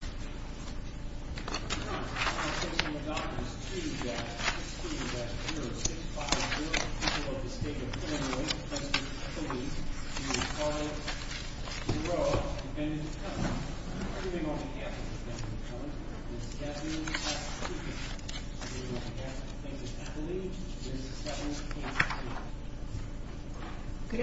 Prior to September 30, 2015, the following application... Japan's first female Prime Minister... There's no need to mention the gender and age of Japanese women, Thus evenly distributed. Good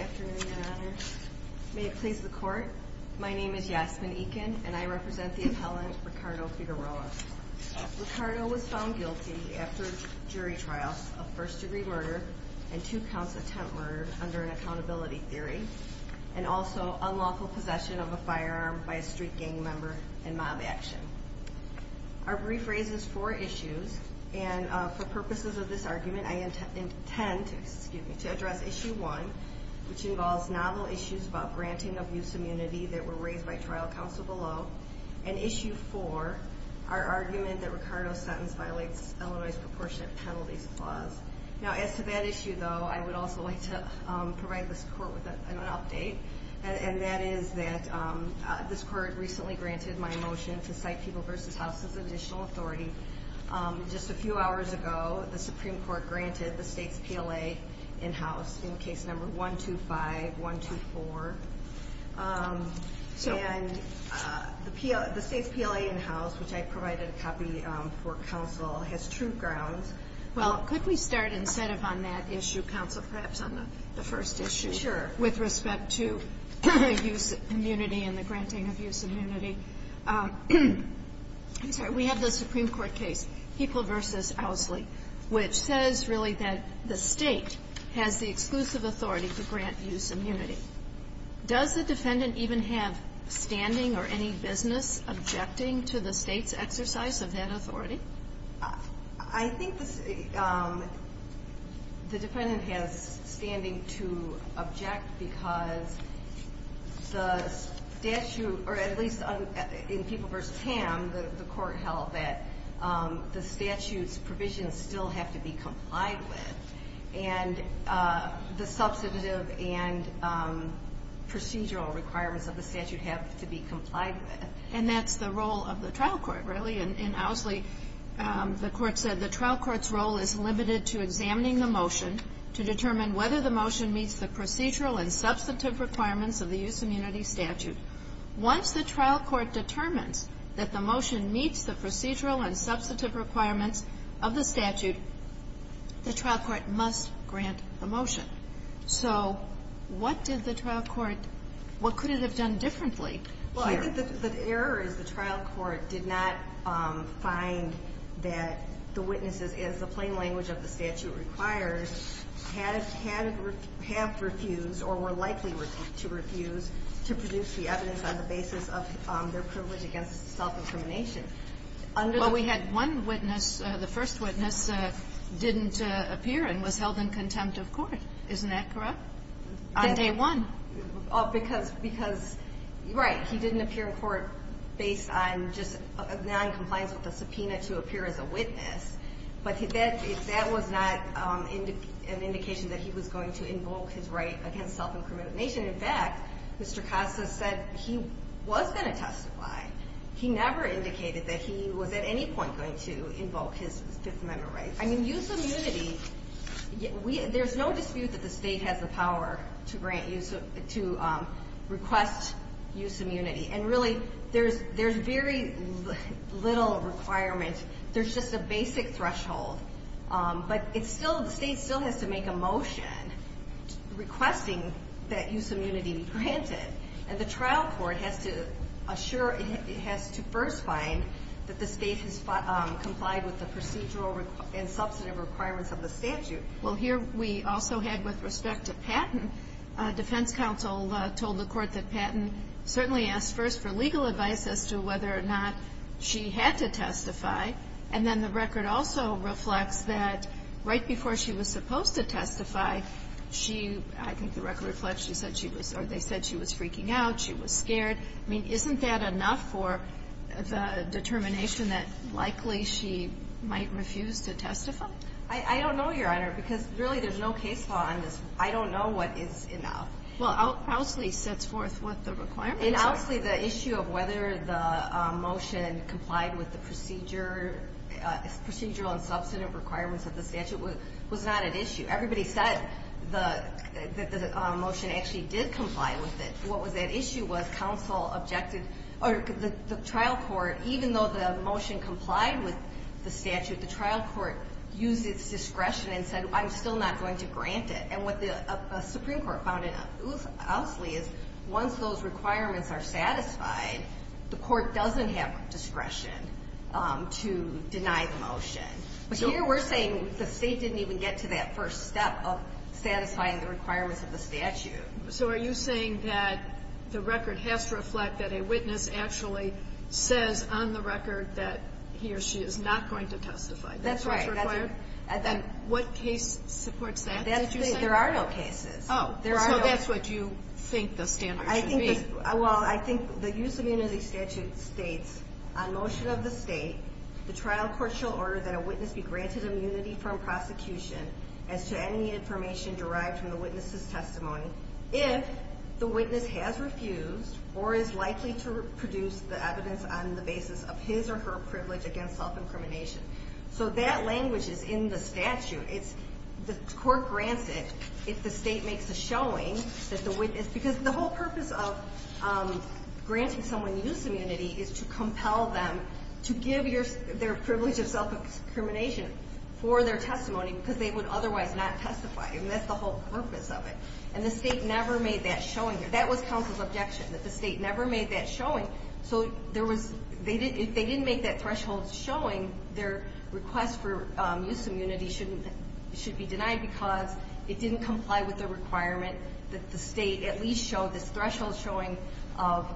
afternoon, Your Honor. May it please the Court, my name is Yasmin Ekin and I represent the appellant Ricardo Figueroa. Ricardo was found guilty after jury trials of first degree murder and two counts of tent murder under an accountability theory, and also unlawful possession of a firearm by a street gang member and mob action. Our brief raises four issues, and for purposes of this argument, I intend to address Issue 1, which involves novel issues about granting of use immunity that were raised by trial counsel below, and Issue 4, our argument that Ricardo's sentence violates Illinois' Proportionate Penalties Clause. Now, as to that issue, though, I would also like to provide this Court with an update, and that is that this Court recently granted my motion to cite People v. House as additional authority. Just a few hours ago, the Supreme Court granted the State's PLA in-house in Case No. 125-124, and the State's PLA in-house, which I provided a copy for counsel, has true grounds. Well, could we start instead of on that issue, counsel, perhaps on the first issue? Sure. With respect to use immunity and the granting of use immunity, I'm sorry. We have the Supreme Court case, People v. Owsley, which says really that the State has the exclusive authority to grant use immunity. Does the defendant even have standing or any business objecting to the State's exercise of that authority? I think the defendant has standing to object because the statute, or at least in People v. Tam, the Court held that the statute's provisions still have to be complied with, and the substantive and procedural requirements of the statute have to be complied with. And that's the role of the trial court, really. In Owsley, the Court said the trial court's role is limited to examining the motion to determine whether the motion meets the procedural and substantive requirements of the use immunity statute. Once the trial court determines that the motion meets the procedural and substantive requirements of the statute, the trial court must grant the motion. So what did the trial court — what could it have done differently? Well, I think the error is the trial court did not find that the witnesses, as the plain language of the statute requires, had to refuse or were likely to refuse to produce the evidence on the basis of their privilege against self-incrimination. Well, we had one witness. The first witness didn't appear and was held in contempt of court. Isn't that correct? The day one. Right. He didn't appear in court based on just noncompliance with the subpoena to appear as a witness. But that was not an indication that he was going to invoke his right against self-incrimination. In fact, Mr. Costa said he was going to testify. He never indicated that he was at any point going to invoke his Fifth Amendment rights. I mean, use immunity — there's no dispute that the state has the power to grant use — to request use immunity. And really, there's very little requirement. There's just a basic threshold. But it's still — the state still has to make a motion requesting that use immunity be granted. And the trial court has to assure — it has to first find that the state has complied with the procedural and substantive requirements of the statute. Well, here we also had, with respect to Patton, defense counsel told the court that Patton certainly asked first for legal advice as to whether or not she had to testify. And then the record also reflects that right before she was supposed to testify, she — I think the record reflects she said she was — or they said she was freaking out, she was scared. I mean, isn't that enough for the determination that likely she might refuse to testify? I don't know, Your Honor, because really there's no case law on this. I don't know what is enough. Well, Ousley sets forth what the requirements are. In Ousley, the issue of whether the motion complied with the procedure — procedural and substantive requirements of the statute was not at issue. Everybody said the motion actually did comply with it. What was at issue was counsel objected — or the trial court, even though the motion complied with the statute, the trial court used its discretion and said, I'm still not going to grant it. And what the Supreme Court found in Ousley is once those requirements are satisfied, the court doesn't have discretion to deny the motion. But here we're saying the State didn't even get to that first step of satisfying the requirements of the statute. So are you saying that the record has to reflect that a witness actually says on the record that he or she is not going to testify? That's what's required? There are no cases. So that's what you think the standard should be? Well, I think the use of immunity statute states, on motion of the State, the trial court shall order that a witness be granted immunity from prosecution as to any information derived from the witness's testimony if the witness has refused or is likely to produce the evidence on the basis of his or her privilege against self-incrimination. So that language is in the statute. The court grants it if the State makes a showing that the witness — because the whole purpose of granting someone use immunity is to compel them to give their privilege of self-incrimination for their testimony, because they would otherwise not testify. I mean, that's the whole purpose of it. And the State never made that showing. That was counsel's objection, that the State never made that showing. So there was — if they didn't make that threshold showing, their request for use immunity should be denied because it didn't comply with the requirement that the State at least show this threshold showing of,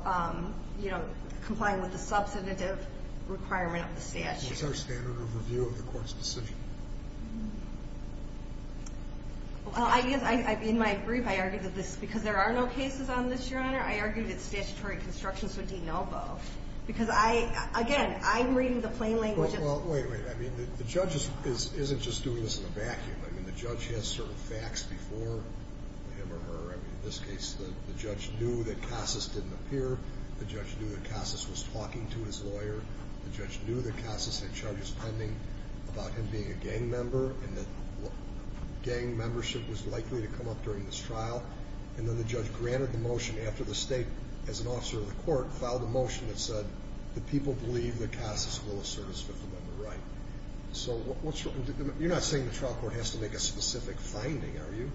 you know, complying with the substantive requirement of the statute. What's our standard of review of the court's decision? Well, I guess, in my brief, I argued that this — because there are no cases on this, Your Honor, I argued that statutory construction should be denied. And that's why I'm saying it's a no-go because I — again, I'm reading the plain language of — Well, wait, wait. I mean, the judge is — isn't just doing this in a vacuum. I mean, the judge has certain facts before him or her. I mean, this case, the judge knew that Casas didn't appear. The judge knew that Casas was talking to his lawyer. The judge knew that Casas had charges pending about him being a gang member and that gang membership was likely to come up during this trial. And then the judge granted the motion after the state, as an officer of the court, filed a motion that said that people believe that Casas will assert his Fifth Amendment right. So what's — you're not saying the trial court has to make a specific finding, are you?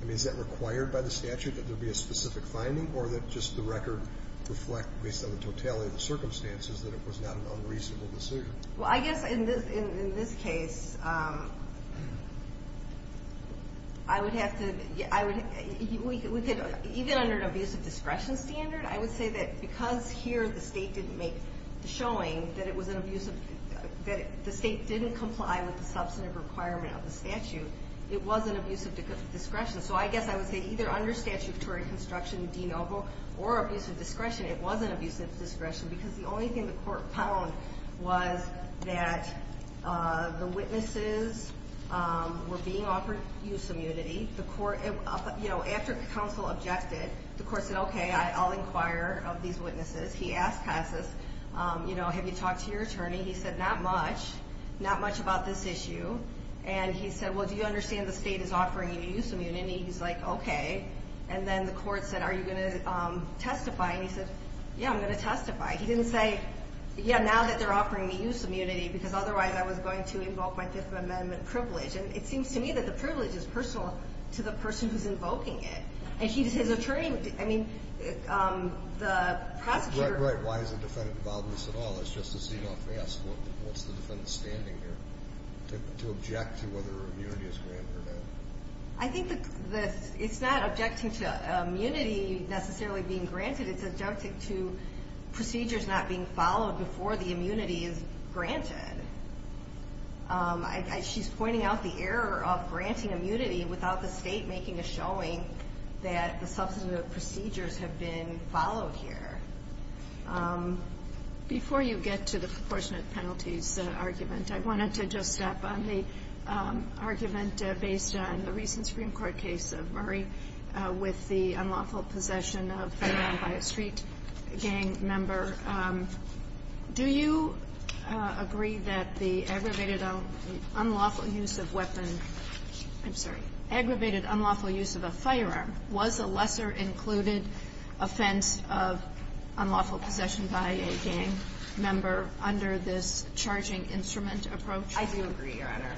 I mean, is that required by the statute, that there be a specific finding, or that just the record reflect, based on the totality of the circumstances, that it was not an unreasonable decision? Well, I guess in this case, I would have to — I would — we could — even under an abusive discretion standard, I would say that because here the state didn't make the showing that it was an abusive — that the state didn't comply with the substantive requirement of the statute, it was an abusive discretion. And what the court did was that the witnesses were being offered use immunity. The court — you know, after the counsel objected, the court said, OK, I'll inquire of these witnesses. He asked Casas, you know, have you talked to your attorney? He said, not much, not much about this issue. And he said, well, do you understand the state is offering you use immunity? He's like, OK. And then the court said, are you going to testify? And he said, yeah, I'm going to testify. He didn't say, yeah, now that they're offering me use immunity, because otherwise I was going to invoke my Fifth Amendment privilege. And it seems to me that the privilege is personal to the person who's invoking it. And he — his attorney — I mean, the prosecutor — Right, right. Why is the defendant involved in this at all? That's just to see how fast — what's the defendant standing here to object to whether immunity is granted or not? I think the — it's not objecting to immunity necessarily being granted. It's objecting to procedures not being followed before the immunity is granted. She's pointing out the error of granting immunity without the state making a showing that the substantive procedures have been followed here. Before you get to the proportionate penalties argument, I wanted to just step on the argument based on the recent Supreme Court case of Murray with the unlawful possession of a firearm by a street gang member. Do you agree that the aggravated unlawful use of weapon — I'm sorry — I do agree, Your Honor.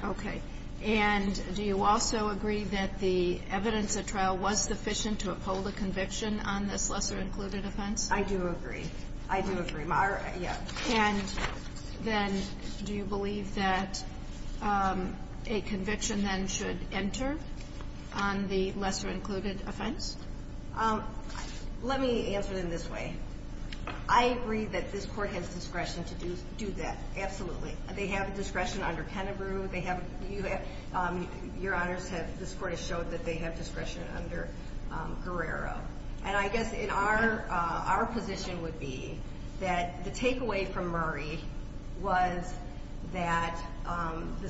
Okay. And do you also agree that the evidence at trial was sufficient to uphold a conviction on this lesser-included offense? I do agree. I do agree. Yes. And then do you believe that a conviction then should enter on the lesser-included offense? Let me answer it in this way. I agree that this Court has discretion to do that. Absolutely. They have discretion under Pennebrew. Your Honors, this Court has showed that they have discretion under Guerrero. And I guess our position would be that the takeaway from Murray was that the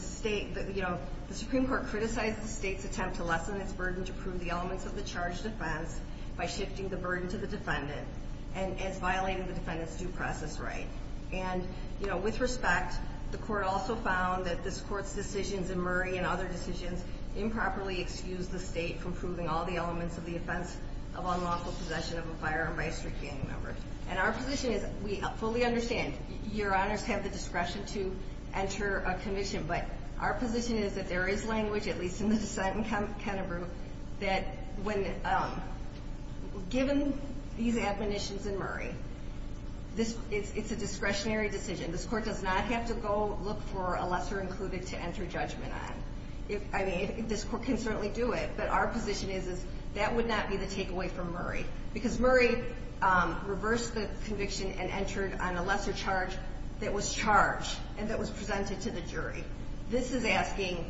Supreme Court criticized the state's attempt to lessen its burden to prove the elements of the charged offense by shifting the burden to the defendant and has violated the defendant's due process right. And, you know, with respect, the Court also found that this Court's decisions in Murray and other decisions improperly excused the state from proving all the elements of the offense of unlawful possession of a firearm by a street gang member. And our position is — we fully understand Your Honors have the discretion to enter a commission, but our position is that there is language, at least in the dissent in Pennebrew, that when — given these admonitions in Murray, it's a discretionary decision. This Court does not have to go look for a lesser-included to enter judgment on. I mean, this Court can certainly do it, but our position is that that would not be the takeaway from Murray. Because Murray reversed the conviction and entered on a lesser charge that was charged and that was presented to the jury. This is asking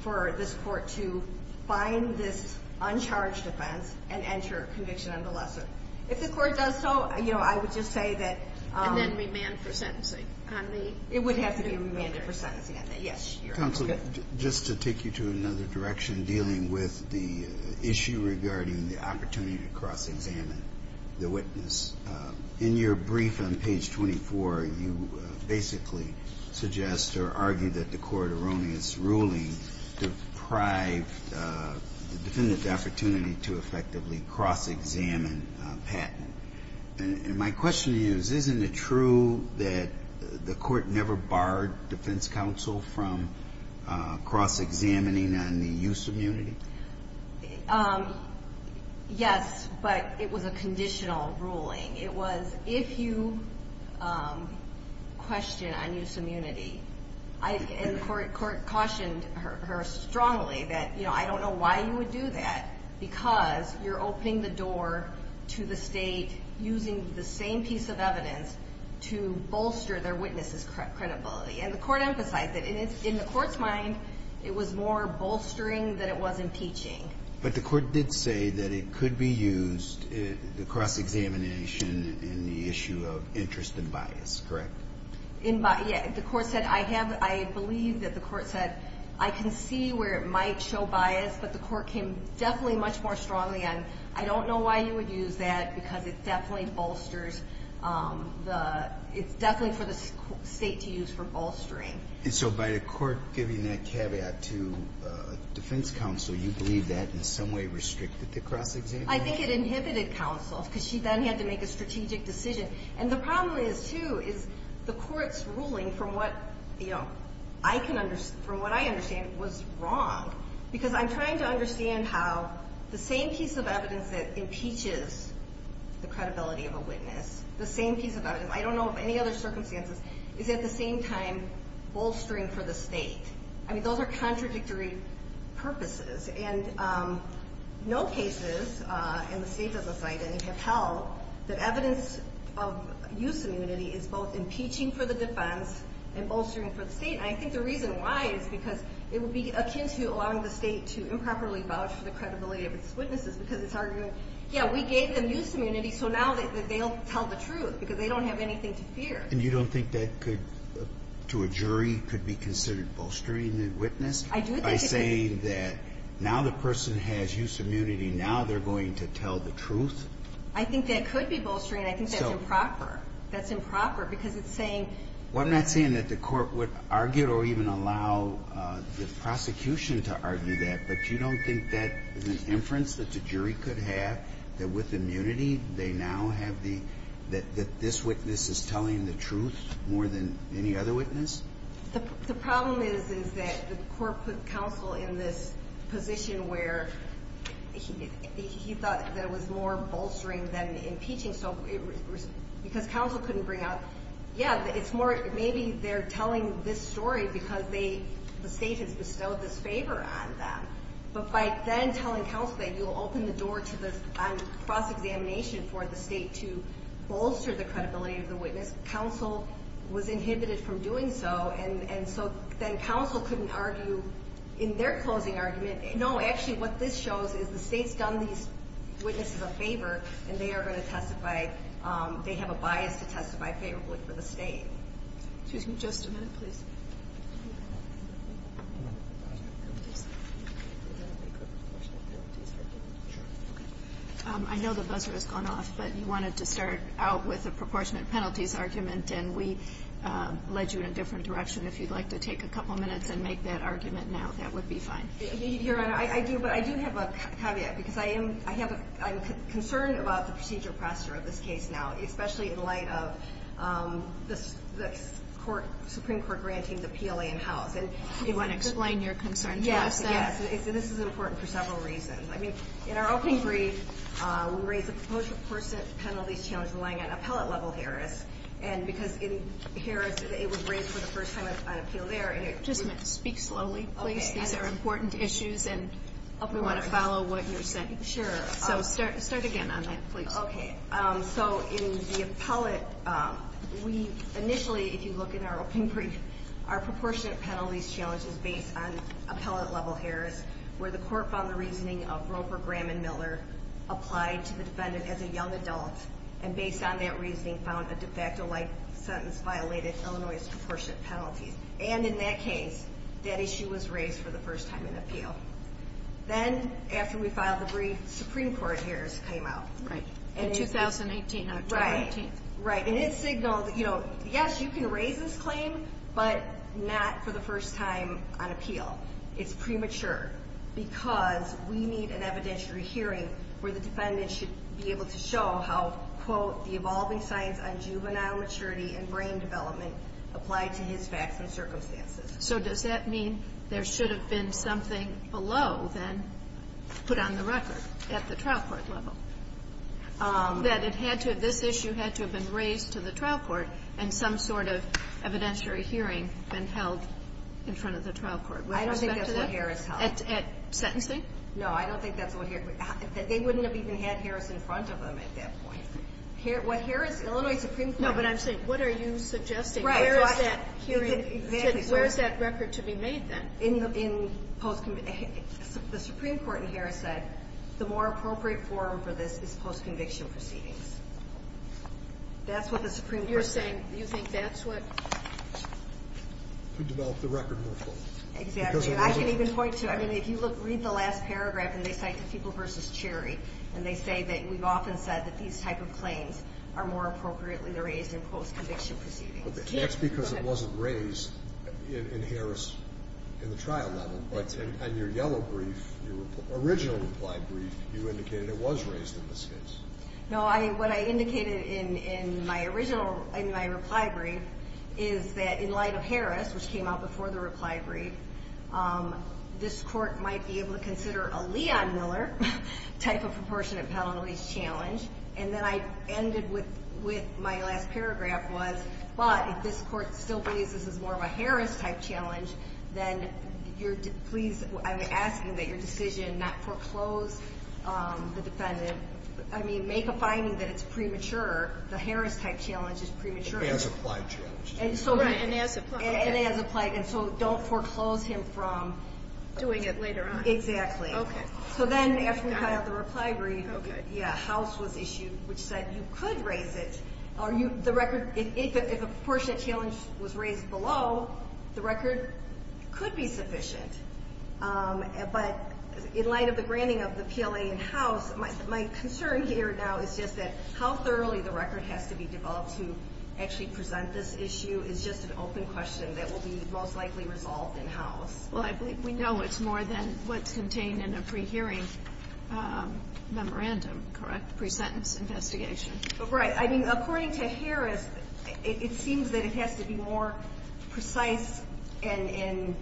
for this Court to find this uncharged offense and enter a conviction on the lesser. If the Court does so, you know, I would just say that — And then remand for sentencing on the — It would have to be remanded for sentencing on the — yes, Your Honor. Counsel, just to take you to another direction dealing with the issue regarding the opportunity to cross-examine the witness, in your brief on page 24, you basically suggest or argue that the Court erroneous ruling deprived the defendant the opportunity to effectively cross-examine Patton. And my question is, isn't it true that the Court never barred defense counsel from cross-examining on the use of munity? Yes, but it was a conditional ruling. It was, if you question on use of munity, and the Court cautioned her strongly that, you know, I don't know why you would do that because you're opening the door to the state using the same piece of evidence to bolster their witness' credibility. And the Court emphasized it. In the Court's mind, it was more bolstering than it was impeaching. But the Court did say that it could be used, the cross-examination, in the issue of interest and bias, correct? Yeah, the Court said I have — I believe that the Court said I can see where it might show bias, but the Court came definitely much more strongly on I don't know why you would use that because it definitely bolsters the — And so by the Court giving that caveat to defense counsel, you believe that in some way restricted the cross-examination? I think it inhibited counsel because she then had to make a strategic decision. And the problem is, too, is the Court's ruling from what, you know, I can — from what I understand was wrong because I'm trying to understand how the same piece of evidence that impeaches the credibility of a witness, the same piece of evidence, I don't know of any other circumstances, is at the same time bolstering for the State. I mean, those are contradictory purposes. And no cases in the State's oversight of any have held that evidence of use immunity is both impeaching for the defense and bolstering for the State. And I think the reason why is because it would be akin to allowing the State to improperly vouch for the credibility of its witnesses because it's arguing, yeah, we gave them use immunity, so now they'll tell the truth because they don't have anything to fear. And you don't think that could, to a jury, could be considered bolstering the witness? I do think it could. By saying that now the person has use immunity, now they're going to tell the truth? I think that could be bolstering. I think that's improper. That's improper because it's saying — Well, I'm not saying that the Court would argue or even allow the prosecution to argue that. But you don't think that is an inference that the jury could have, that with immunity they now have the — that this witness is telling the truth more than any other witness? The problem is, is that the Court put counsel in this position where he thought that it was more bolstering than impeaching. Because counsel couldn't bring out — yeah, it's more, maybe they're telling this story because the State has bestowed this favor on them. But by then telling counsel that you'll open the door to the cross-examination for the State to bolster the credibility of the witness, counsel was inhibited from doing so, and so then counsel couldn't argue in their closing argument, No, actually what this shows is the State's done these witnesses a favor, and they are going to testify — they have a bias to testify favorably for the State. Excuse me just a minute, please. I know the buzzer has gone off, but you wanted to start out with a proportionate penalties argument, and we led you in a different direction. If you'd like to take a couple minutes and make that argument now, that would be fine. Your Honor, I do, but I do have a caveat, because I am — I have a — I'm concerned about the procedural posture of this case now, especially in light of the Supreme Court granting the PLA in-house. Do you want to explain your concern to us? Yes, yes. This is important for several reasons. I mean, in our open brief, we raise the proportionate penalties challenge relying on appellate-level hearings, and because in hearings it was raised for the first time on appeal there, and it would — Just speak slowly, please. These are important issues, and we want to follow what you're saying. Sure. So start again on that, please. Okay. So in the appellate, we — initially, if you look in our open brief, our proportionate penalties challenge is based on appellate-level hearings, where the court found the reasoning of Roper, Graham, and Miller applied to the defendant as a young adult, and based on that reasoning, found a de facto-like sentence violated Illinois' proportionate penalties. And in that case, that issue was raised for the first time on appeal. Then, after we filed the brief, Supreme Court hearings came out. Right. In 2018, October 18th. Right. Right. And it signaled, you know, yes, you can raise this claim, but not for the first time on appeal. It's premature because we need an evidentiary hearing where the defendant should be able to show how, quote, the evolving science on juvenile maturity and brain development applied to his facts and circumstances. So does that mean there should have been something below, then, put on the record at the trial court level? That it had to — this issue had to have been raised to the trial court, and some sort of evidentiary hearing been held in front of the trial court. With respect to that? I don't think that's what Harris held. At sentencing? No, I don't think that's what Harris — they wouldn't have even had Harris in front of them at that point. What Harris — Illinois Supreme Court — No, but I'm saying, what are you suggesting? Where is that hearing — Right. Exactly. Where is that record to be made, then? In post — the Supreme Court in Harris said the more appropriate forum for this is post-conviction proceedings. That's what the Supreme Court said. You're saying you think that's what — To develop the record more fully. Exactly. And I can even point to — I mean, if you read the last paragraph, and they cite the people versus Cherry, and they say that we've often said that these type of claims are more appropriately raised in post-conviction proceedings. That's because it wasn't raised in Harris in the trial level, but in your yellow brief, your original reply brief, you indicated it was raised in this case. No, I — what I indicated in my original — in my reply brief is that in light of Harris, which came out before the reply brief, this Court might be able to consider a Leon-Miller type of proportionate penalties challenge. And then I ended with — with my last paragraph was, but if this Court still believes this is more of a Harris-type challenge, then you're — please, I'm asking that your decision not foreclose the defendant. I mean, make a finding that it's premature. The Harris-type challenge is premature. It's an as-applied challenge. Right. And as-applied. And as-applied. And so don't foreclose him from — Doing it later on. Exactly. Okay. So then, after we cut out the reply brief — Okay. Yeah, House was issued, which said you could raise it. Are you — the record — if a proportionate challenge was raised below, the record could be sufficient. But in light of the granting of the PLA in House, my concern here now is just that how thoroughly the record has to be developed to actually present this issue is just an open question that will be most likely resolved in House. Well, I believe we know it's more than what's contained in a pre-hearing memorandum, correct? Pre-sentence investigation. Right. I mean, according to Harris, it seems that it has to be more precise and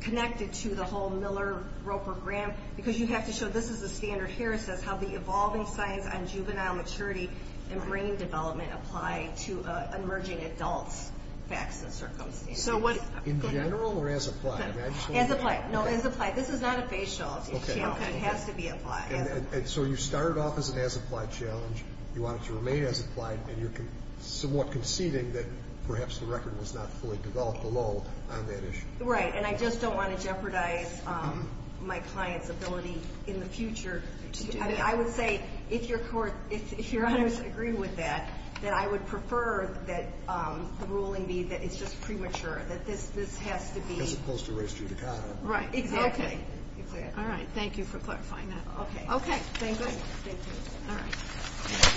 connected to the whole Miller, Roper, Graham, because you have to show this is the standard Harris says, how the evolving science on juvenile maturity and brain development apply to emerging adults' facts and circumstances. So what — In general or as applied? As applied. No, as applied. This is not a facial. Okay. It has to be applied. And so you start off as an as-applied challenge, you want it to remain as applied, and you're somewhat conceding that perhaps the record was not fully developed below on that issue. Right. And I just don't want to jeopardize my client's ability in the future to do that. I mean, I would say, if Your Honor's agree with that, that I would prefer that the record remain premature, that this has to be — As opposed to race judicata. Right. Exactly. Okay. All right. Thank you for clarifying that. Okay. Okay. Thank you. Thank you. All right. Thank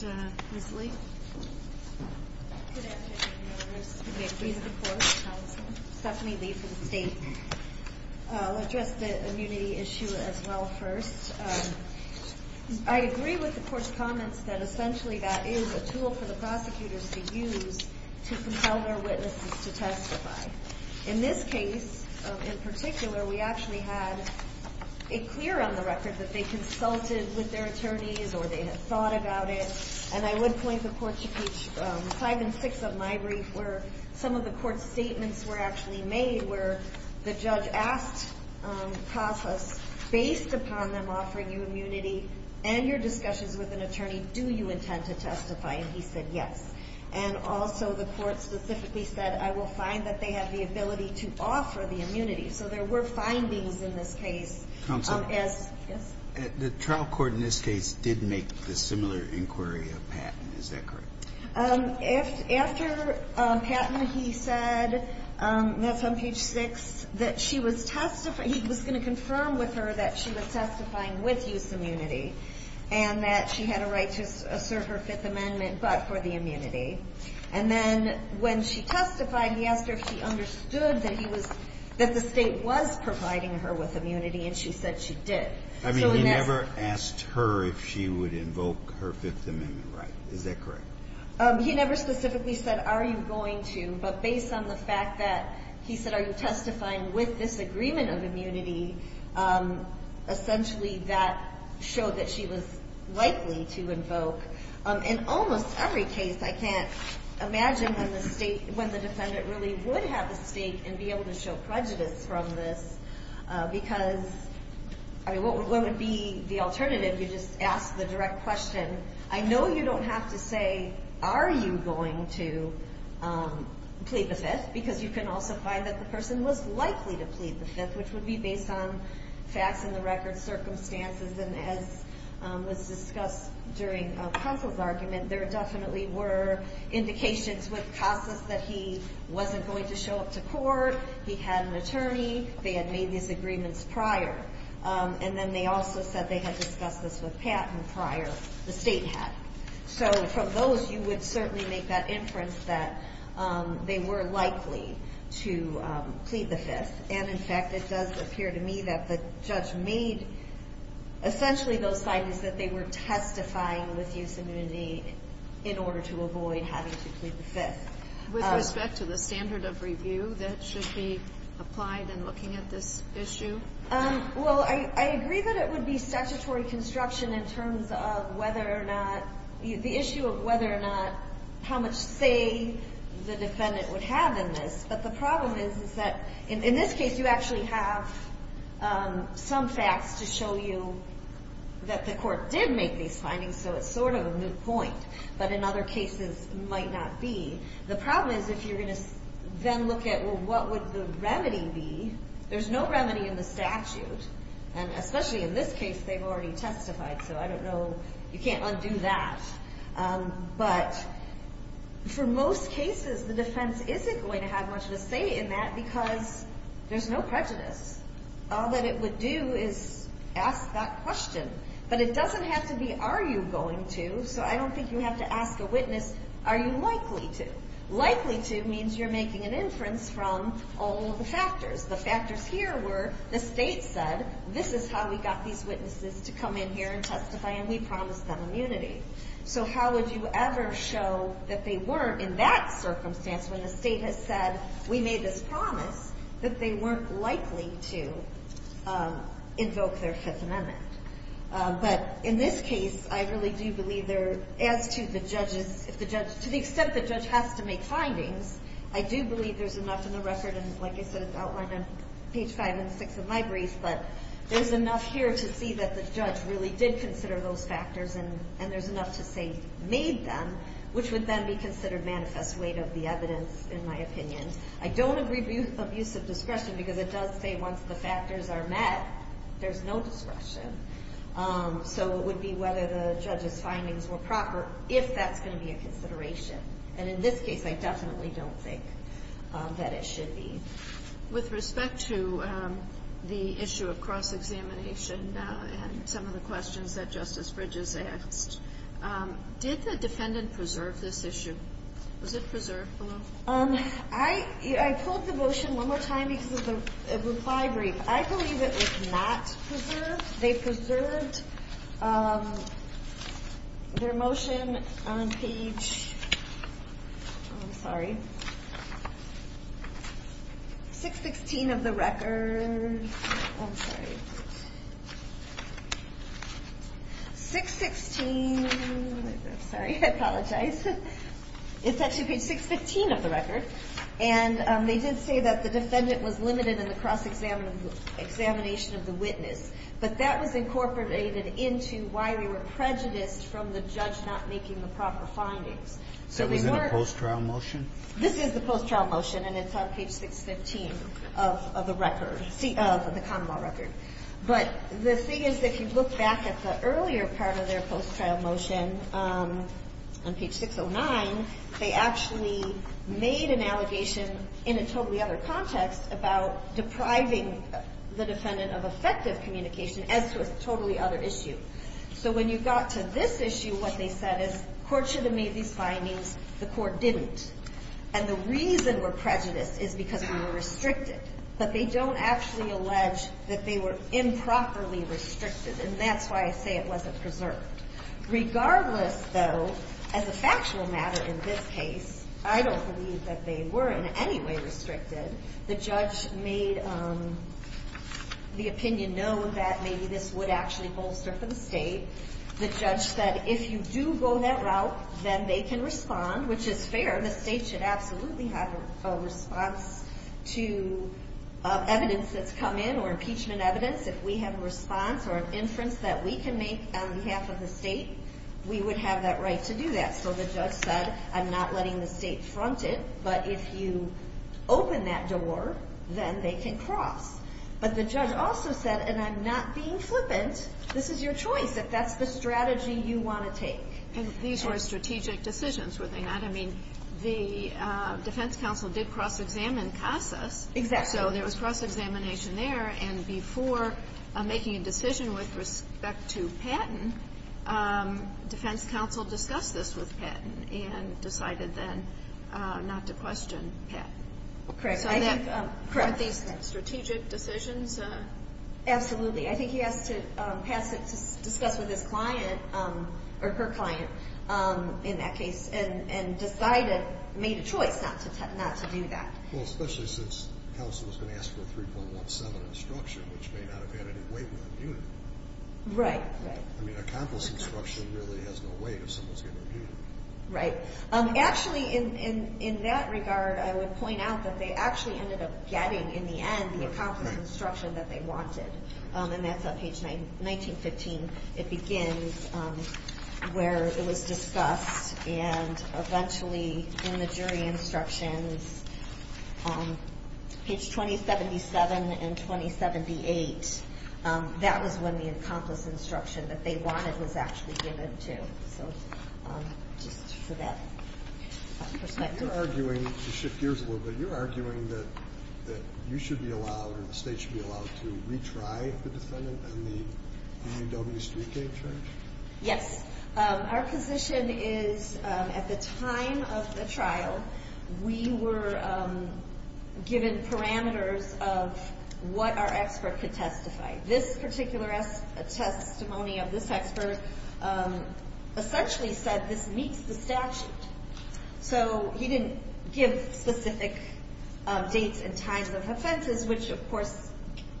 you. All right. Ms. Lee? Good afternoon, Your Honor. I'm Stephanie Lee from the State. I'll address the immunity issue as well first. I agree with the Court's comments that essentially that is a tool for the prosecutors to use to compel their witnesses to testify. In this case, in particular, we actually had it clear on the record that they consulted with their attorneys or they had thought about it. And I would point the Court to page 5 and 6 of my brief where some of the Court's and your discussions with an attorney, do you intend to testify? And he said, yes. And also, the Court specifically said, I will find that they have the ability to offer the immunity. So there were findings in this case. Counsel? Yes? The trial court in this case did make the similar inquiry of Patton. Is that correct? After Patton, he said — that's on page 6 — that she was — he was going to confirm with her that she was testifying with use immunity and that she had a right to serve her Fifth Amendment but for the immunity. And then when she testified, he asked her if she understood that he was — that the State was providing her with immunity, and she said she did. I mean, he never asked her if she would invoke her Fifth Amendment right. Is that correct? He never specifically said, are you going to? But based on the fact that he said, are you testifying with this agreement of immunity, essentially that showed that she was likely to invoke. In almost every case, I can't imagine when the State — when the defendant really would have a stake and be able to show prejudice from this because — I mean, what would be the alternative? You just ask the direct question. I know you don't have to say, are you going to plead the Fifth, because you can also find that the person was likely to plead the Fifth, which would be based on facts in the record, circumstances. And as was discussed during Kossel's argument, there definitely were indications with Kossel that he wasn't going to show up to court. He had an attorney. They had made these agreements prior. And then they also said they had discussed this with Pat and prior — the State had. So from those, you would certainly make that inference that they were likely to plead the Fifth. And in fact, it does appear to me that the judge made essentially those findings that they were testifying with use of immunity in order to avoid having to plead the Fifth. With respect to the standard of review that should be applied in looking at this issue? Well, I agree that it would be statutory construction in terms of whether or not — the issue of whether or not — how much say the defendant would have in this. But the problem is that in this case, you actually have some facts to show you that the court did make these findings, so it's sort of a moot point. But in other cases, it might not be. The problem is if you're going to then look at, well, what would the remedy be? There's no remedy in the statute. And especially in this case, they've already testified, so I don't know — you can't undo that. But for most cases, the defense isn't going to have much to say in that because there's no prejudice. All that it would do is ask that question. But it doesn't have to be, are you going to? So I don't think you have to ask a witness, are you likely to? Likely to means you're making an inference from all of the factors. The factors here were the State said, this is how we got these witnesses to come in here and testify, and we promised them immunity. So how would you ever show that they weren't in that circumstance when the State has said, we made this promise, that they weren't likely to invoke their Fifth Amendment? But in this case, I really do believe as to the judge's — to the extent the judge has to make findings, I do believe there's enough in the record, and like I said, it's outlined on page five and six of my brief, but there's enough here to see that the judge really did consider those factors, and there's enough to say made them, which would then be considered manifest weight of the evidence, in my opinion. I don't agree with abusive discretion because it does say once the factors are met, there's no discretion, so it would be whether the judge's findings were proper, if that's going to be a consideration. And in this case, I definitely don't think that it should be. With respect to the issue of cross-examination and some of the questions that Justice Bridges asked, did the defendant preserve this issue? Was it preserved below? I pulled the motion one more time because of the reply brief. I believe it was not preserved. They preserved their motion on page — I'm sorry, 616 of the record. I'm sorry. 616 — sorry, I apologize. It's actually page 615 of the record, and they did say that the defendant was limited in the cross-examination of the witness. But that was incorporated into why we were prejudiced from the judge not making the proper findings. So we weren't — That was in a post-trial motion? This is the post-trial motion, and it's on page 615 of the record, of the common law record. But the thing is, if you look back at the earlier part of their post-trial motion on page 609, they actually made an allegation in a totally other context about depriving the defendant of effective communication as to a totally other issue. So when you got to this issue, what they said is, Court should have made these findings. The Court didn't. And the reason we're prejudiced is because we were restricted. But they don't actually allege that they were improperly restricted, and that's why I say it wasn't preserved. Regardless, though, as a factual matter in this case, I don't believe that they were in any way restricted. The judge made the opinion known that maybe this would actually bolster for the state. The judge said, if you do go that route, then they can respond, which is fair. The state should absolutely have a response to evidence that's come in or impeachment evidence. If we have a response or an inference that we can make on behalf of the state, we would have that right to do that. So the judge said, I'm not letting the state front it. But if you open that door, then they can cross. But the judge also said, and I'm not being flippant, this is your choice if that's the strategy you want to take. And these were strategic decisions, were they not? I mean, the defense counsel did cross-examine CASAS. Exactly. So there was cross-examination there. And before making a decision with respect to Patton, defense counsel discussed this with Patton and decided then not to question Patton. Correct. Correct. So are these strategic decisions? Absolutely. I think he has to pass it to discuss with his client or her client in that case and decided, made a choice not to do that. Well, especially since counsel was going to ask for a 3.17 instruction, which may not have had any weight with the unit. Right, right. I mean, accomplice instruction really has no weight if someone's getting a unit. Right. Actually, in that regard, I would point out that they actually ended up getting, in the end, the accomplice instruction that they wanted. And that's on page 1915. It begins where it was discussed. And eventually, in the jury instructions, page 2077 and 2078, that was when the accomplice instruction that they wanted was actually given to. So just for that perspective. You're arguing, to shift gears a little bit, you're arguing that you should be allowed or the state should be allowed to retry the defendant in the UW Street Case Trial? Yes. Our position is, at the time of the trial, we were given parameters of what our expert could testify. This particular testimony of this expert essentially said this meets the statute. So he didn't give specific dates and times of offenses, which, of course,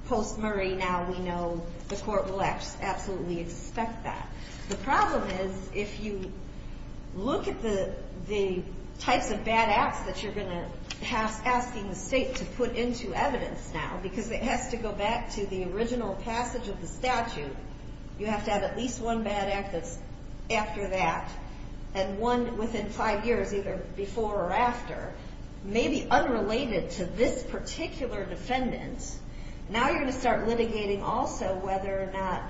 post-Murray now we know the court will absolutely expect that. The problem is, if you look at the types of bad acts that you're going to be asking the state to put into evidence now, because it has to go back to the original passage of the statute, you have to have at least one bad act that's after that, and one within five years, either before or after, maybe unrelated to this particular defendant. Now you're going to start litigating, also, whether or not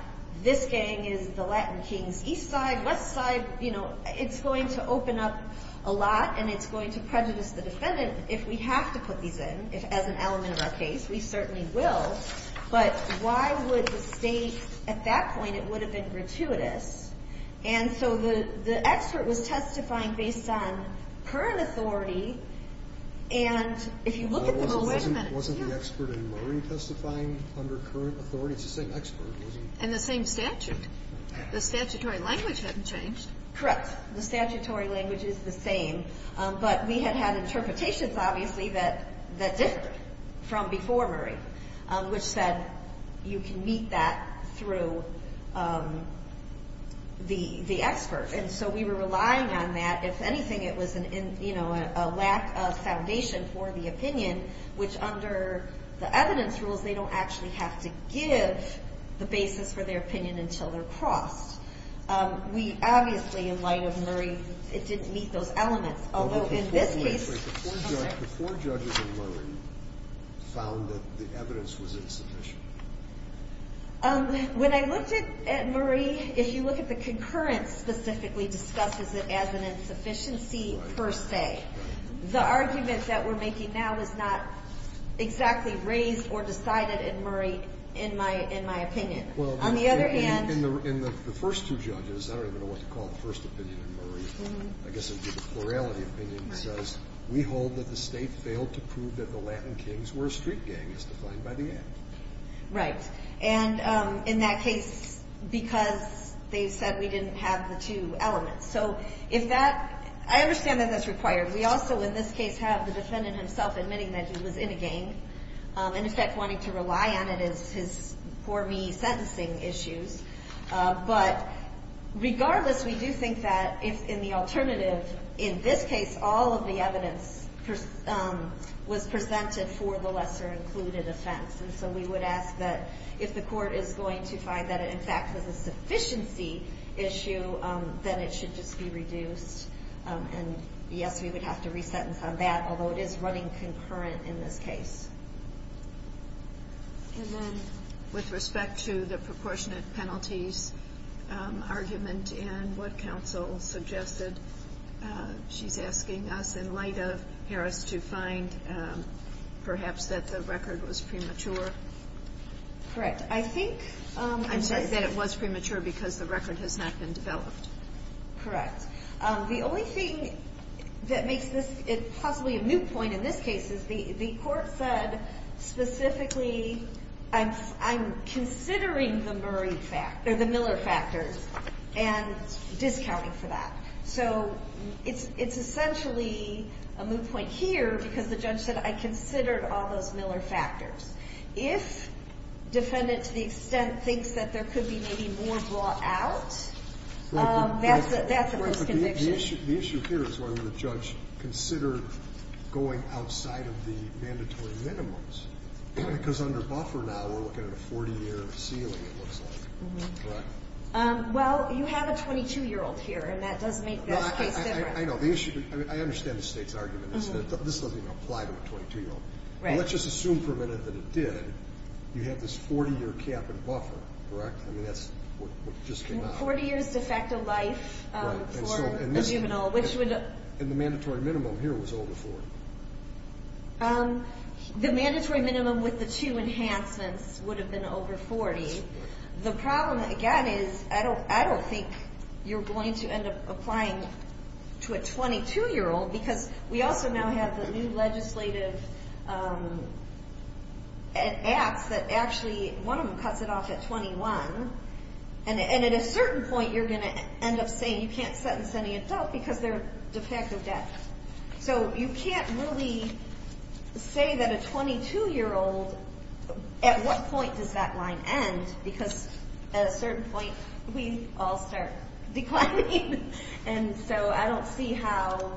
this gang is the Latin King's East Side, West Side. It's going to open up a lot, and it's going to prejudice the defendant if we have to put these in, as an element of our case. We certainly will. But why would the state, at that point, it would have been gratuitous. And so the expert was testifying based on current authority, and if you look at the moment, then it's here. Wasn't the expert in Murray testifying under current authority? It's the same expert. And the same statute. The statutory language hadn't changed. Correct. The statutory language is the same, but we had had interpretations, obviously, that differed from before Murray, which said you can meet that through the expert. And so we were relying on that. If anything, it was a lack of foundation for the opinion, which under the evidence rules, they don't actually have to give the basis for their opinion until they're crossed. We obviously, in light of Murray, it didn't meet those elements. Although in this case. The four judges in Murray found that the evidence was insufficient. When I looked at Murray, if you look at the concurrence specifically discusses it as an insufficiency per se. The argument that we're making now is not exactly raised or decided in Murray, in my opinion. On the other hand. In the first two judges, I don't even know what to call the first opinion in Murray. I guess plurality opinion says we hold that the state failed to prove that the Latin kings were street gang is defined by the end. Right. And in that case, because they said we didn't have the two elements. So if that I understand that that's required. We also, in this case, have the defendant himself admitting that he was in a game. In effect, wanting to rely on it is his for me sentencing issues. But regardless, we do think that if in the alternative, in this case, all of the evidence was presented for the lesser included offense. And so we would ask that if the court is going to find that it in fact was a sufficiency issue, then it should just be reduced. And yes, we would have to resentence on that. Although it is running concurrent in this case. And then with respect to the proportionate penalties argument and what counsel suggested, she's asking us in light of Harris to find perhaps that the record was premature. Correct. I think I said that it was premature because the record has not been developed. Correct. The only thing that makes this possibly a moot point in this case is the court said specifically I'm considering the Murray fact or the Miller factors and discounting for that. So it's essentially a moot point here because the judge said I considered all those Miller factors. If defendant to the extent thinks that there could be maybe more draw out, that's a worse conviction. The issue here is whether the judge considered going outside of the mandatory minimums. Because under buffer now, we're looking at a 40-year ceiling, it looks like. Well, you have a 22-year-old here, and that does make this case different. I know. The issue, I mean, I understand the State's argument is that this doesn't even apply to a 22-year-old. Right. Let's just assume for a minute that it did. You have this 40-year cap and buffer, correct? I mean, that's what just came out. 40 years de facto life for a juvenile. And the mandatory minimum here was over 40. The mandatory minimum with the two enhancements would have been over 40. The problem, again, is I don't think you're going to end up applying to a 22-year-old. Because we also now have the new legislative acts that actually one of them cuts it off at 21. And at a certain point, you're going to end up saying you can't sentence any adult because they're de facto deaf. So you can't really say that a 22-year-old, at what point does that line end? Because at a certain point, we all start declining. And so I don't see how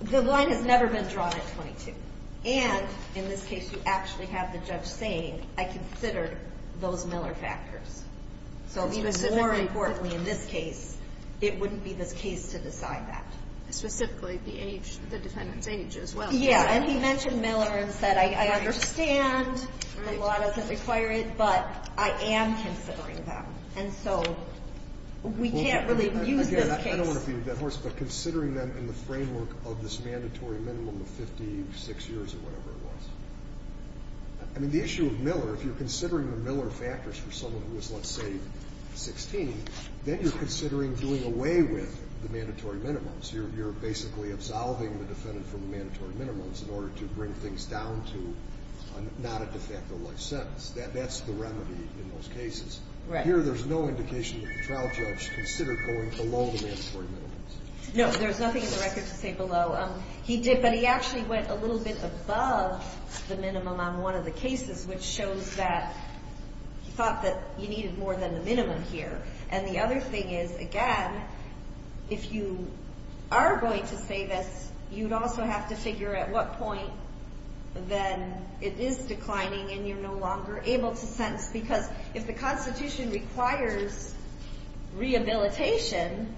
the line has never been drawn at 22. And in this case, you actually have the judge saying, I consider those Miller factors. So even more importantly in this case, it wouldn't be this case to decide that. Specifically the age, the defendant's age as well. Yeah, and he mentioned Miller and said, I understand the law doesn't require it, but I am considering them. And so we can't really use this case. I don't want to feed that horse, but considering them in the framework of this mandatory minimum of 56 years or whatever it was. I mean, the issue of Miller, if you're considering the Miller factors for someone who was, let's say, 16, then you're considering doing away with the mandatory minimums. You're basically absolving the defendant from the mandatory minimums in order to bring things down to not a de facto life sentence. That's the remedy in those cases. Here, there's no indication that the trial judge considered going below the mandatory minimums. No, there's nothing in the record to say below. But he actually went a little bit above the minimum on one of the cases, which shows that he thought that you needed more than the minimum here. And the other thing is, again, if you are going to say this, you'd also have to figure at what point then it is declining and you're no longer able to sentence. Because if the Constitution requires rehabilitation,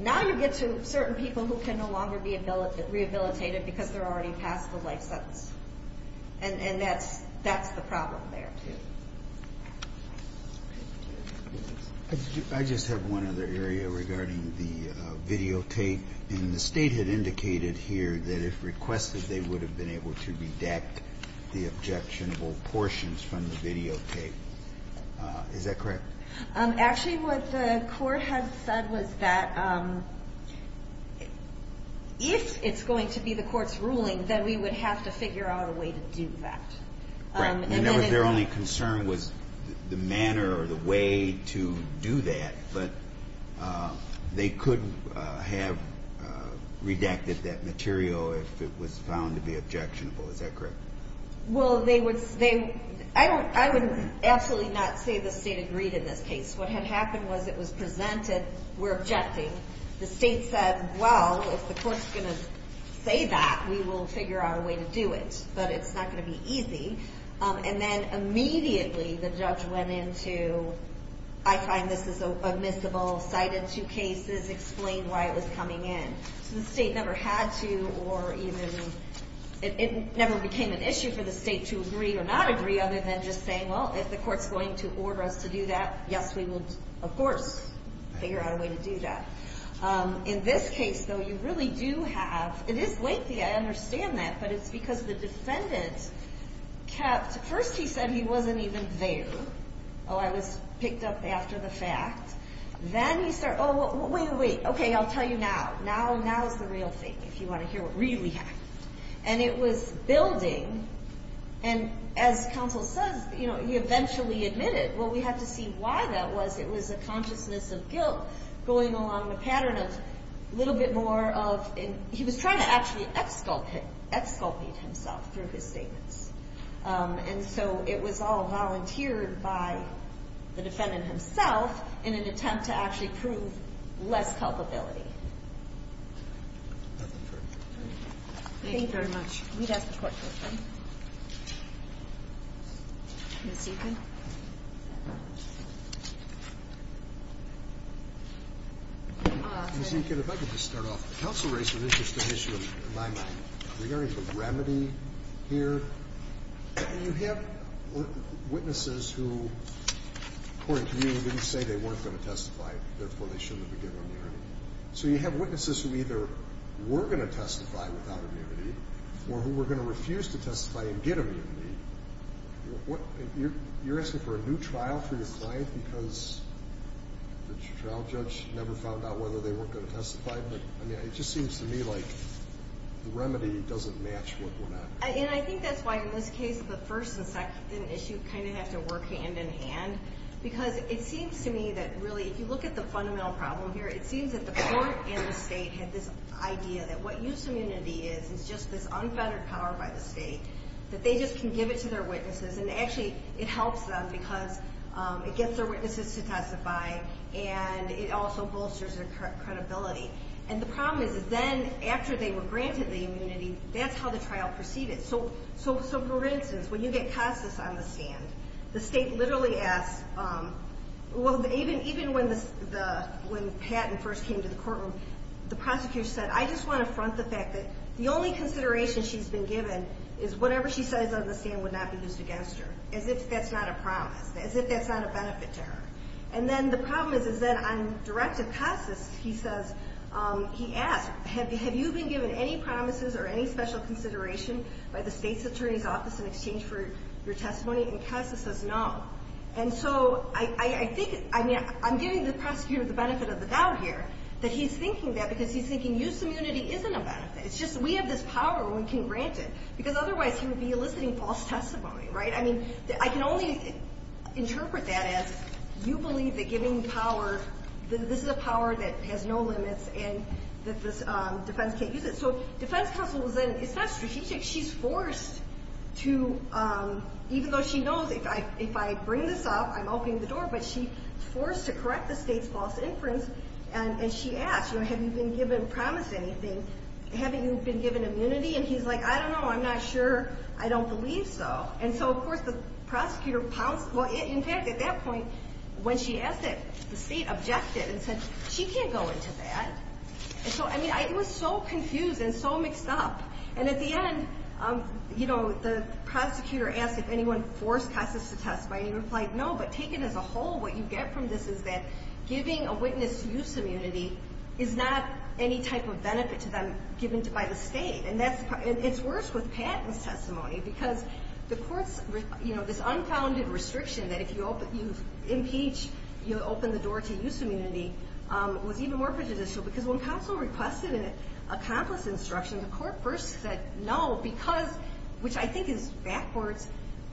now you get to certain people who can no longer be rehabilitated because they're already past the life sentence. And that's the problem there, too. I just have one other area regarding the videotape. And the State had indicated here that if requested, they would have been able to redact the objectionable portions from the videotape. Is that correct? Actually, what the court has said was that if it's going to be the court's ruling, then we would have to figure out a way to do that. Right. And that was their only concern was the manner or the way to do that. But they could have redacted that material if it was found to be objectionable. Is that correct? Well, I would absolutely not say the State agreed in this case. What had happened was it was presented, we're objecting. The State said, well, if the court's going to say that, we will figure out a way to do it. But it's not going to be easy. And then immediately the judge went into, I find this is a miscible, cited two cases, explained why it was coming in. So the State never had to or even it never became an issue for the State to agree or not agree other than just saying, well, if the court's going to order us to do that, yes, we will, of course, figure out a way to do that. In this case, though, you really do have, it is lengthy, I understand that, but it's because the defendant kept, first he said he wasn't even there. Oh, I was picked up after the fact. Then he said, oh, wait, wait, okay, I'll tell you now. Now is the real thing if you want to hear what really happened. And it was building. And as counsel says, you know, he eventually admitted. Well, we have to see why that was. It was a consciousness of guilt going along the pattern of a little bit more of, he was trying to actually exculpate himself through his statements. And so it was all volunteered by the defendant himself in an attempt to actually prove less culpability. Thank you very much. We'd ask the court to adjourn. Ms. Eakin. Ms. Eakin. Ms. Eakin, if I could just start off. The counsel raised an interesting issue in my mind regarding the remedy here. You have witnesses who, according to you, didn't say they weren't going to testify. Therefore, they shouldn't have been given immunity. So you have witnesses who either were going to testify without immunity or who were going to refuse to testify and get immunity. You're asking for a new trial for your client because the trial judge never found out whether they were going to testify? But, I mean, it just seems to me like the remedy doesn't match what went on. And I think that's why, in this case, the first and second issue kind of have to work hand-in-hand. Because it seems to me that, really, if you look at the fundamental problem here, it seems that the court and the state had this idea that what used immunity is is just this unfettered power by the state, that they just can give it to their witnesses. And, actually, it helps them because it gets their witnesses to testify and it also bolsters their credibility. And the problem is that then, after they were granted the immunity, that's how the trial proceeded. So, for instance, when you get Casas on the stand, the state literally asks, well, even when Patton first came to the courtroom, the prosecutor said, I just want to front the fact that the only consideration she's been given is whatever she says on the stand would not be used against her, as if that's not a promise, as if that's not a benefit to her. And then the problem is, is that on directive, Casas, he says, he asks, have you been given any promises or any special consideration by the state's attorney's office in exchange for your testimony? And Casas says no. And so I think, I mean, I'm giving the prosecutor the benefit of the doubt here It's just we have this power when we can grant it, because otherwise he would be eliciting false testimony, right? I mean, I can only interpret that as you believe that giving power, that this is a power that has no limits and that the defense can't use it. So defense counsel was then, it's not strategic. She's forced to, even though she knows, if I bring this up, I'm opening the door, but she's forced to correct the state's false inference. And she asked, have you been given promise anything? Haven't you been given immunity? And he's like, I don't know. I'm not sure. I don't believe so. And so, of course, the prosecutor pounced. Well, in fact, at that point, when she asked it, the state objected and said, she can't go into that. And so, I mean, I was so confused and so mixed up. And at the end, you know, the prosecutor asked if anyone forced Casas to testify. And he replied, no, but taken as a whole, what you get from this is that giving a witness use immunity is not any type of benefit to them given by the state. And it's worse with Patton's testimony because the court's, you know, this unfounded restriction that if you impeach, you open the door to use immunity was even more prejudicial. Because when counsel requested an accomplice instruction, the court first said no because, which I think is backwards,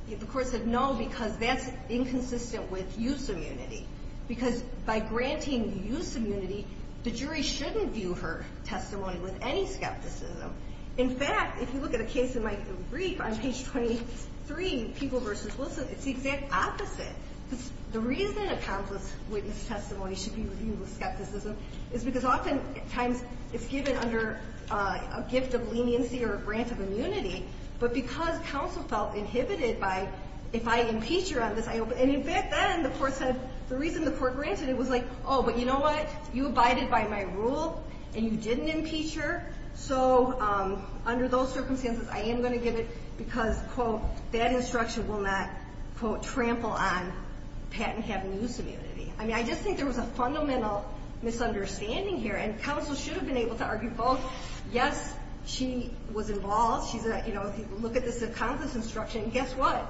the court said no because that's inconsistent with use immunity. Because by granting use immunity, the jury shouldn't view her testimony with any skepticism. In fact, if you look at a case in my brief on page 23, People v. Wilson, it's the exact opposite. The reason an accomplice witness testimony should be reviewed with skepticism is because oftentimes it's given under a gift of leniency or a grant of immunity. But because counsel felt inhibited by if I impeach her on this, and in fact then the court said the reason the court granted it was like, oh, but you know what? You abided by my rule and you didn't impeach her. So under those circumstances, I am going to give it because, quote, that instruction will not, quote, trample on Patton having use immunity. I mean, I just think there was a fundamental misunderstanding here. And counsel should have been able to argue both, yes, she was involved. If you look at this accomplice instruction, guess what?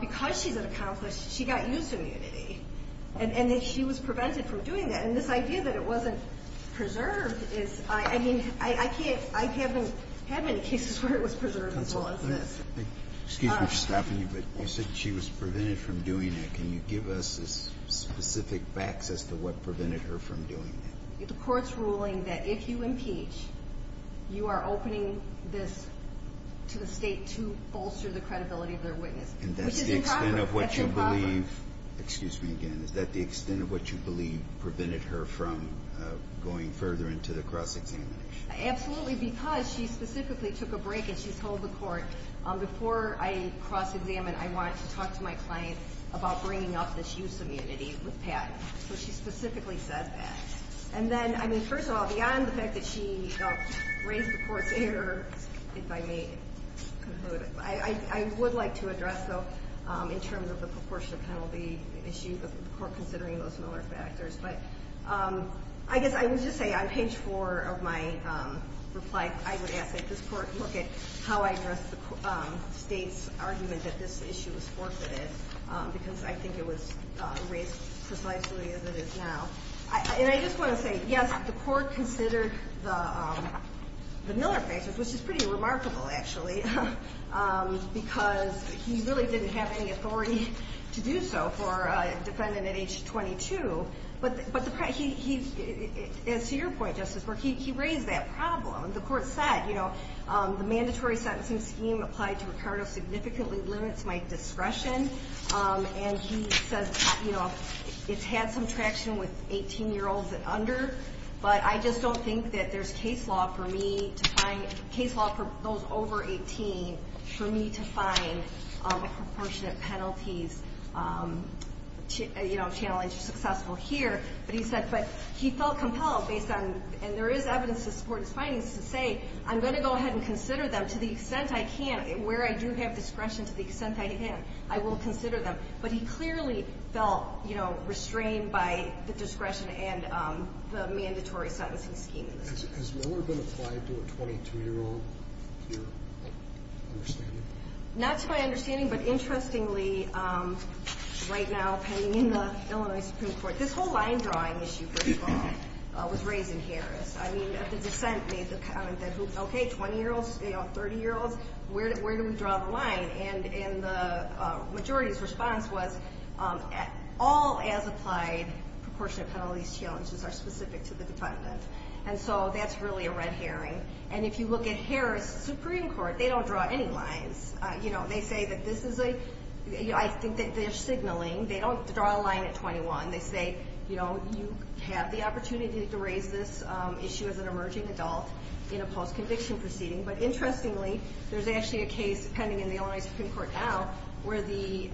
Because she's an accomplice, she got use immunity. And she was prevented from doing that. And this idea that it wasn't preserved is, I mean, I haven't had many cases where it was preserved as well as this. Excuse me for stopping you, but you said she was prevented from doing it. Can you give us specific facts as to what prevented her from doing it? The court's ruling that if you impeach, you are opening this to the state to bolster the credibility of their witness. And that's the extent of what you believe. That's improper. Excuse me again. Is that the extent of what you believe prevented her from going further into the cross-examination? Absolutely, because she specifically took a break and she told the court, before I cross-examine, I want to talk to my client about bringing up this use immunity with Patton. So she specifically said that. And then, I mean, first of all, beyond the fact that she raised the court's error, if I may conclude, I would like to address, though, in terms of the proportionate penalty issue, the court considering those similar factors. But I guess I would just say on page 4 of my reply, I would ask that this court look at how I address the state's argument that this issue was forfeited, because I think it was raised precisely as it is now. And I just want to say, yes, the court considered the Miller factors, which is pretty remarkable, actually, because he really didn't have any authority to do so for a defendant at age 22. But to your point, Justice, where he raised that problem, the court said, you know, the mandatory sentencing scheme applied to Ricardo significantly limits my discretion. And he says, you know, it's had some traction with 18-year-olds and under, but I just don't think that there's case law for me to find, case law for those over 18 for me to find a proportionate penalties, you know, challenge successful here. But he said, but he felt compelled based on, and there is evidence to support his findings, to say, I'm going to go ahead and consider them to the extent I can, where I do have discretion to the extent I can, I will consider them. But he clearly felt, you know, restrained by the discretion and the mandatory sentencing scheme. Has Miller been applied to a 22-year-old here? Not to my understanding, but interestingly, right now, pending in the Illinois Supreme Court, this whole line drawing issue was raised in Harris. I mean, the dissent made the comment that, okay, 20-year-olds, 30-year-olds, where do we draw the line? And the majority's response was all as applied proportionate penalties challenges are specific to the defendant. And so that's really a red herring. And if you look at Harris Supreme Court, they don't draw any lines. You know, they say that this is a, I think that they're signaling. They don't draw a line at 21. They say, you know, you have the opportunity to raise this issue as an emerging adult in a post-conviction proceeding. But interestingly, there's actually a case pending in the Illinois Supreme Court now, where the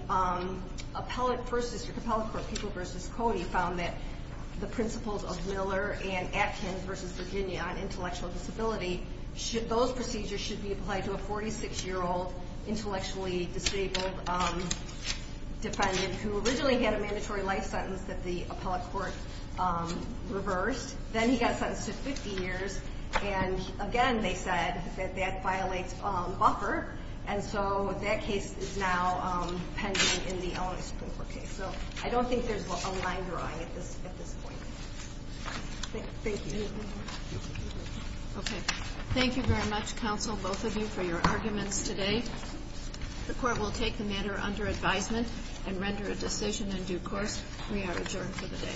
appellate versus, the appellate court, People v. Cody, found that the principles of Miller and Atkins v. Virginia on intellectual disability, those procedures should be applied to a 46-year-old intellectually disabled defendant who originally had a mandatory life sentence that the appellate court reversed. Then he got sentenced to 50 years. And again, they said that that violates buffer. And so that case is now pending in the Illinois Supreme Court case. So I don't think there's a line drawing at this point. Thank you. Okay. Thank you very much, counsel, both of you, for your arguments today. The court will take the matter under advisement and render a decision in due course. We are adjourned for the day.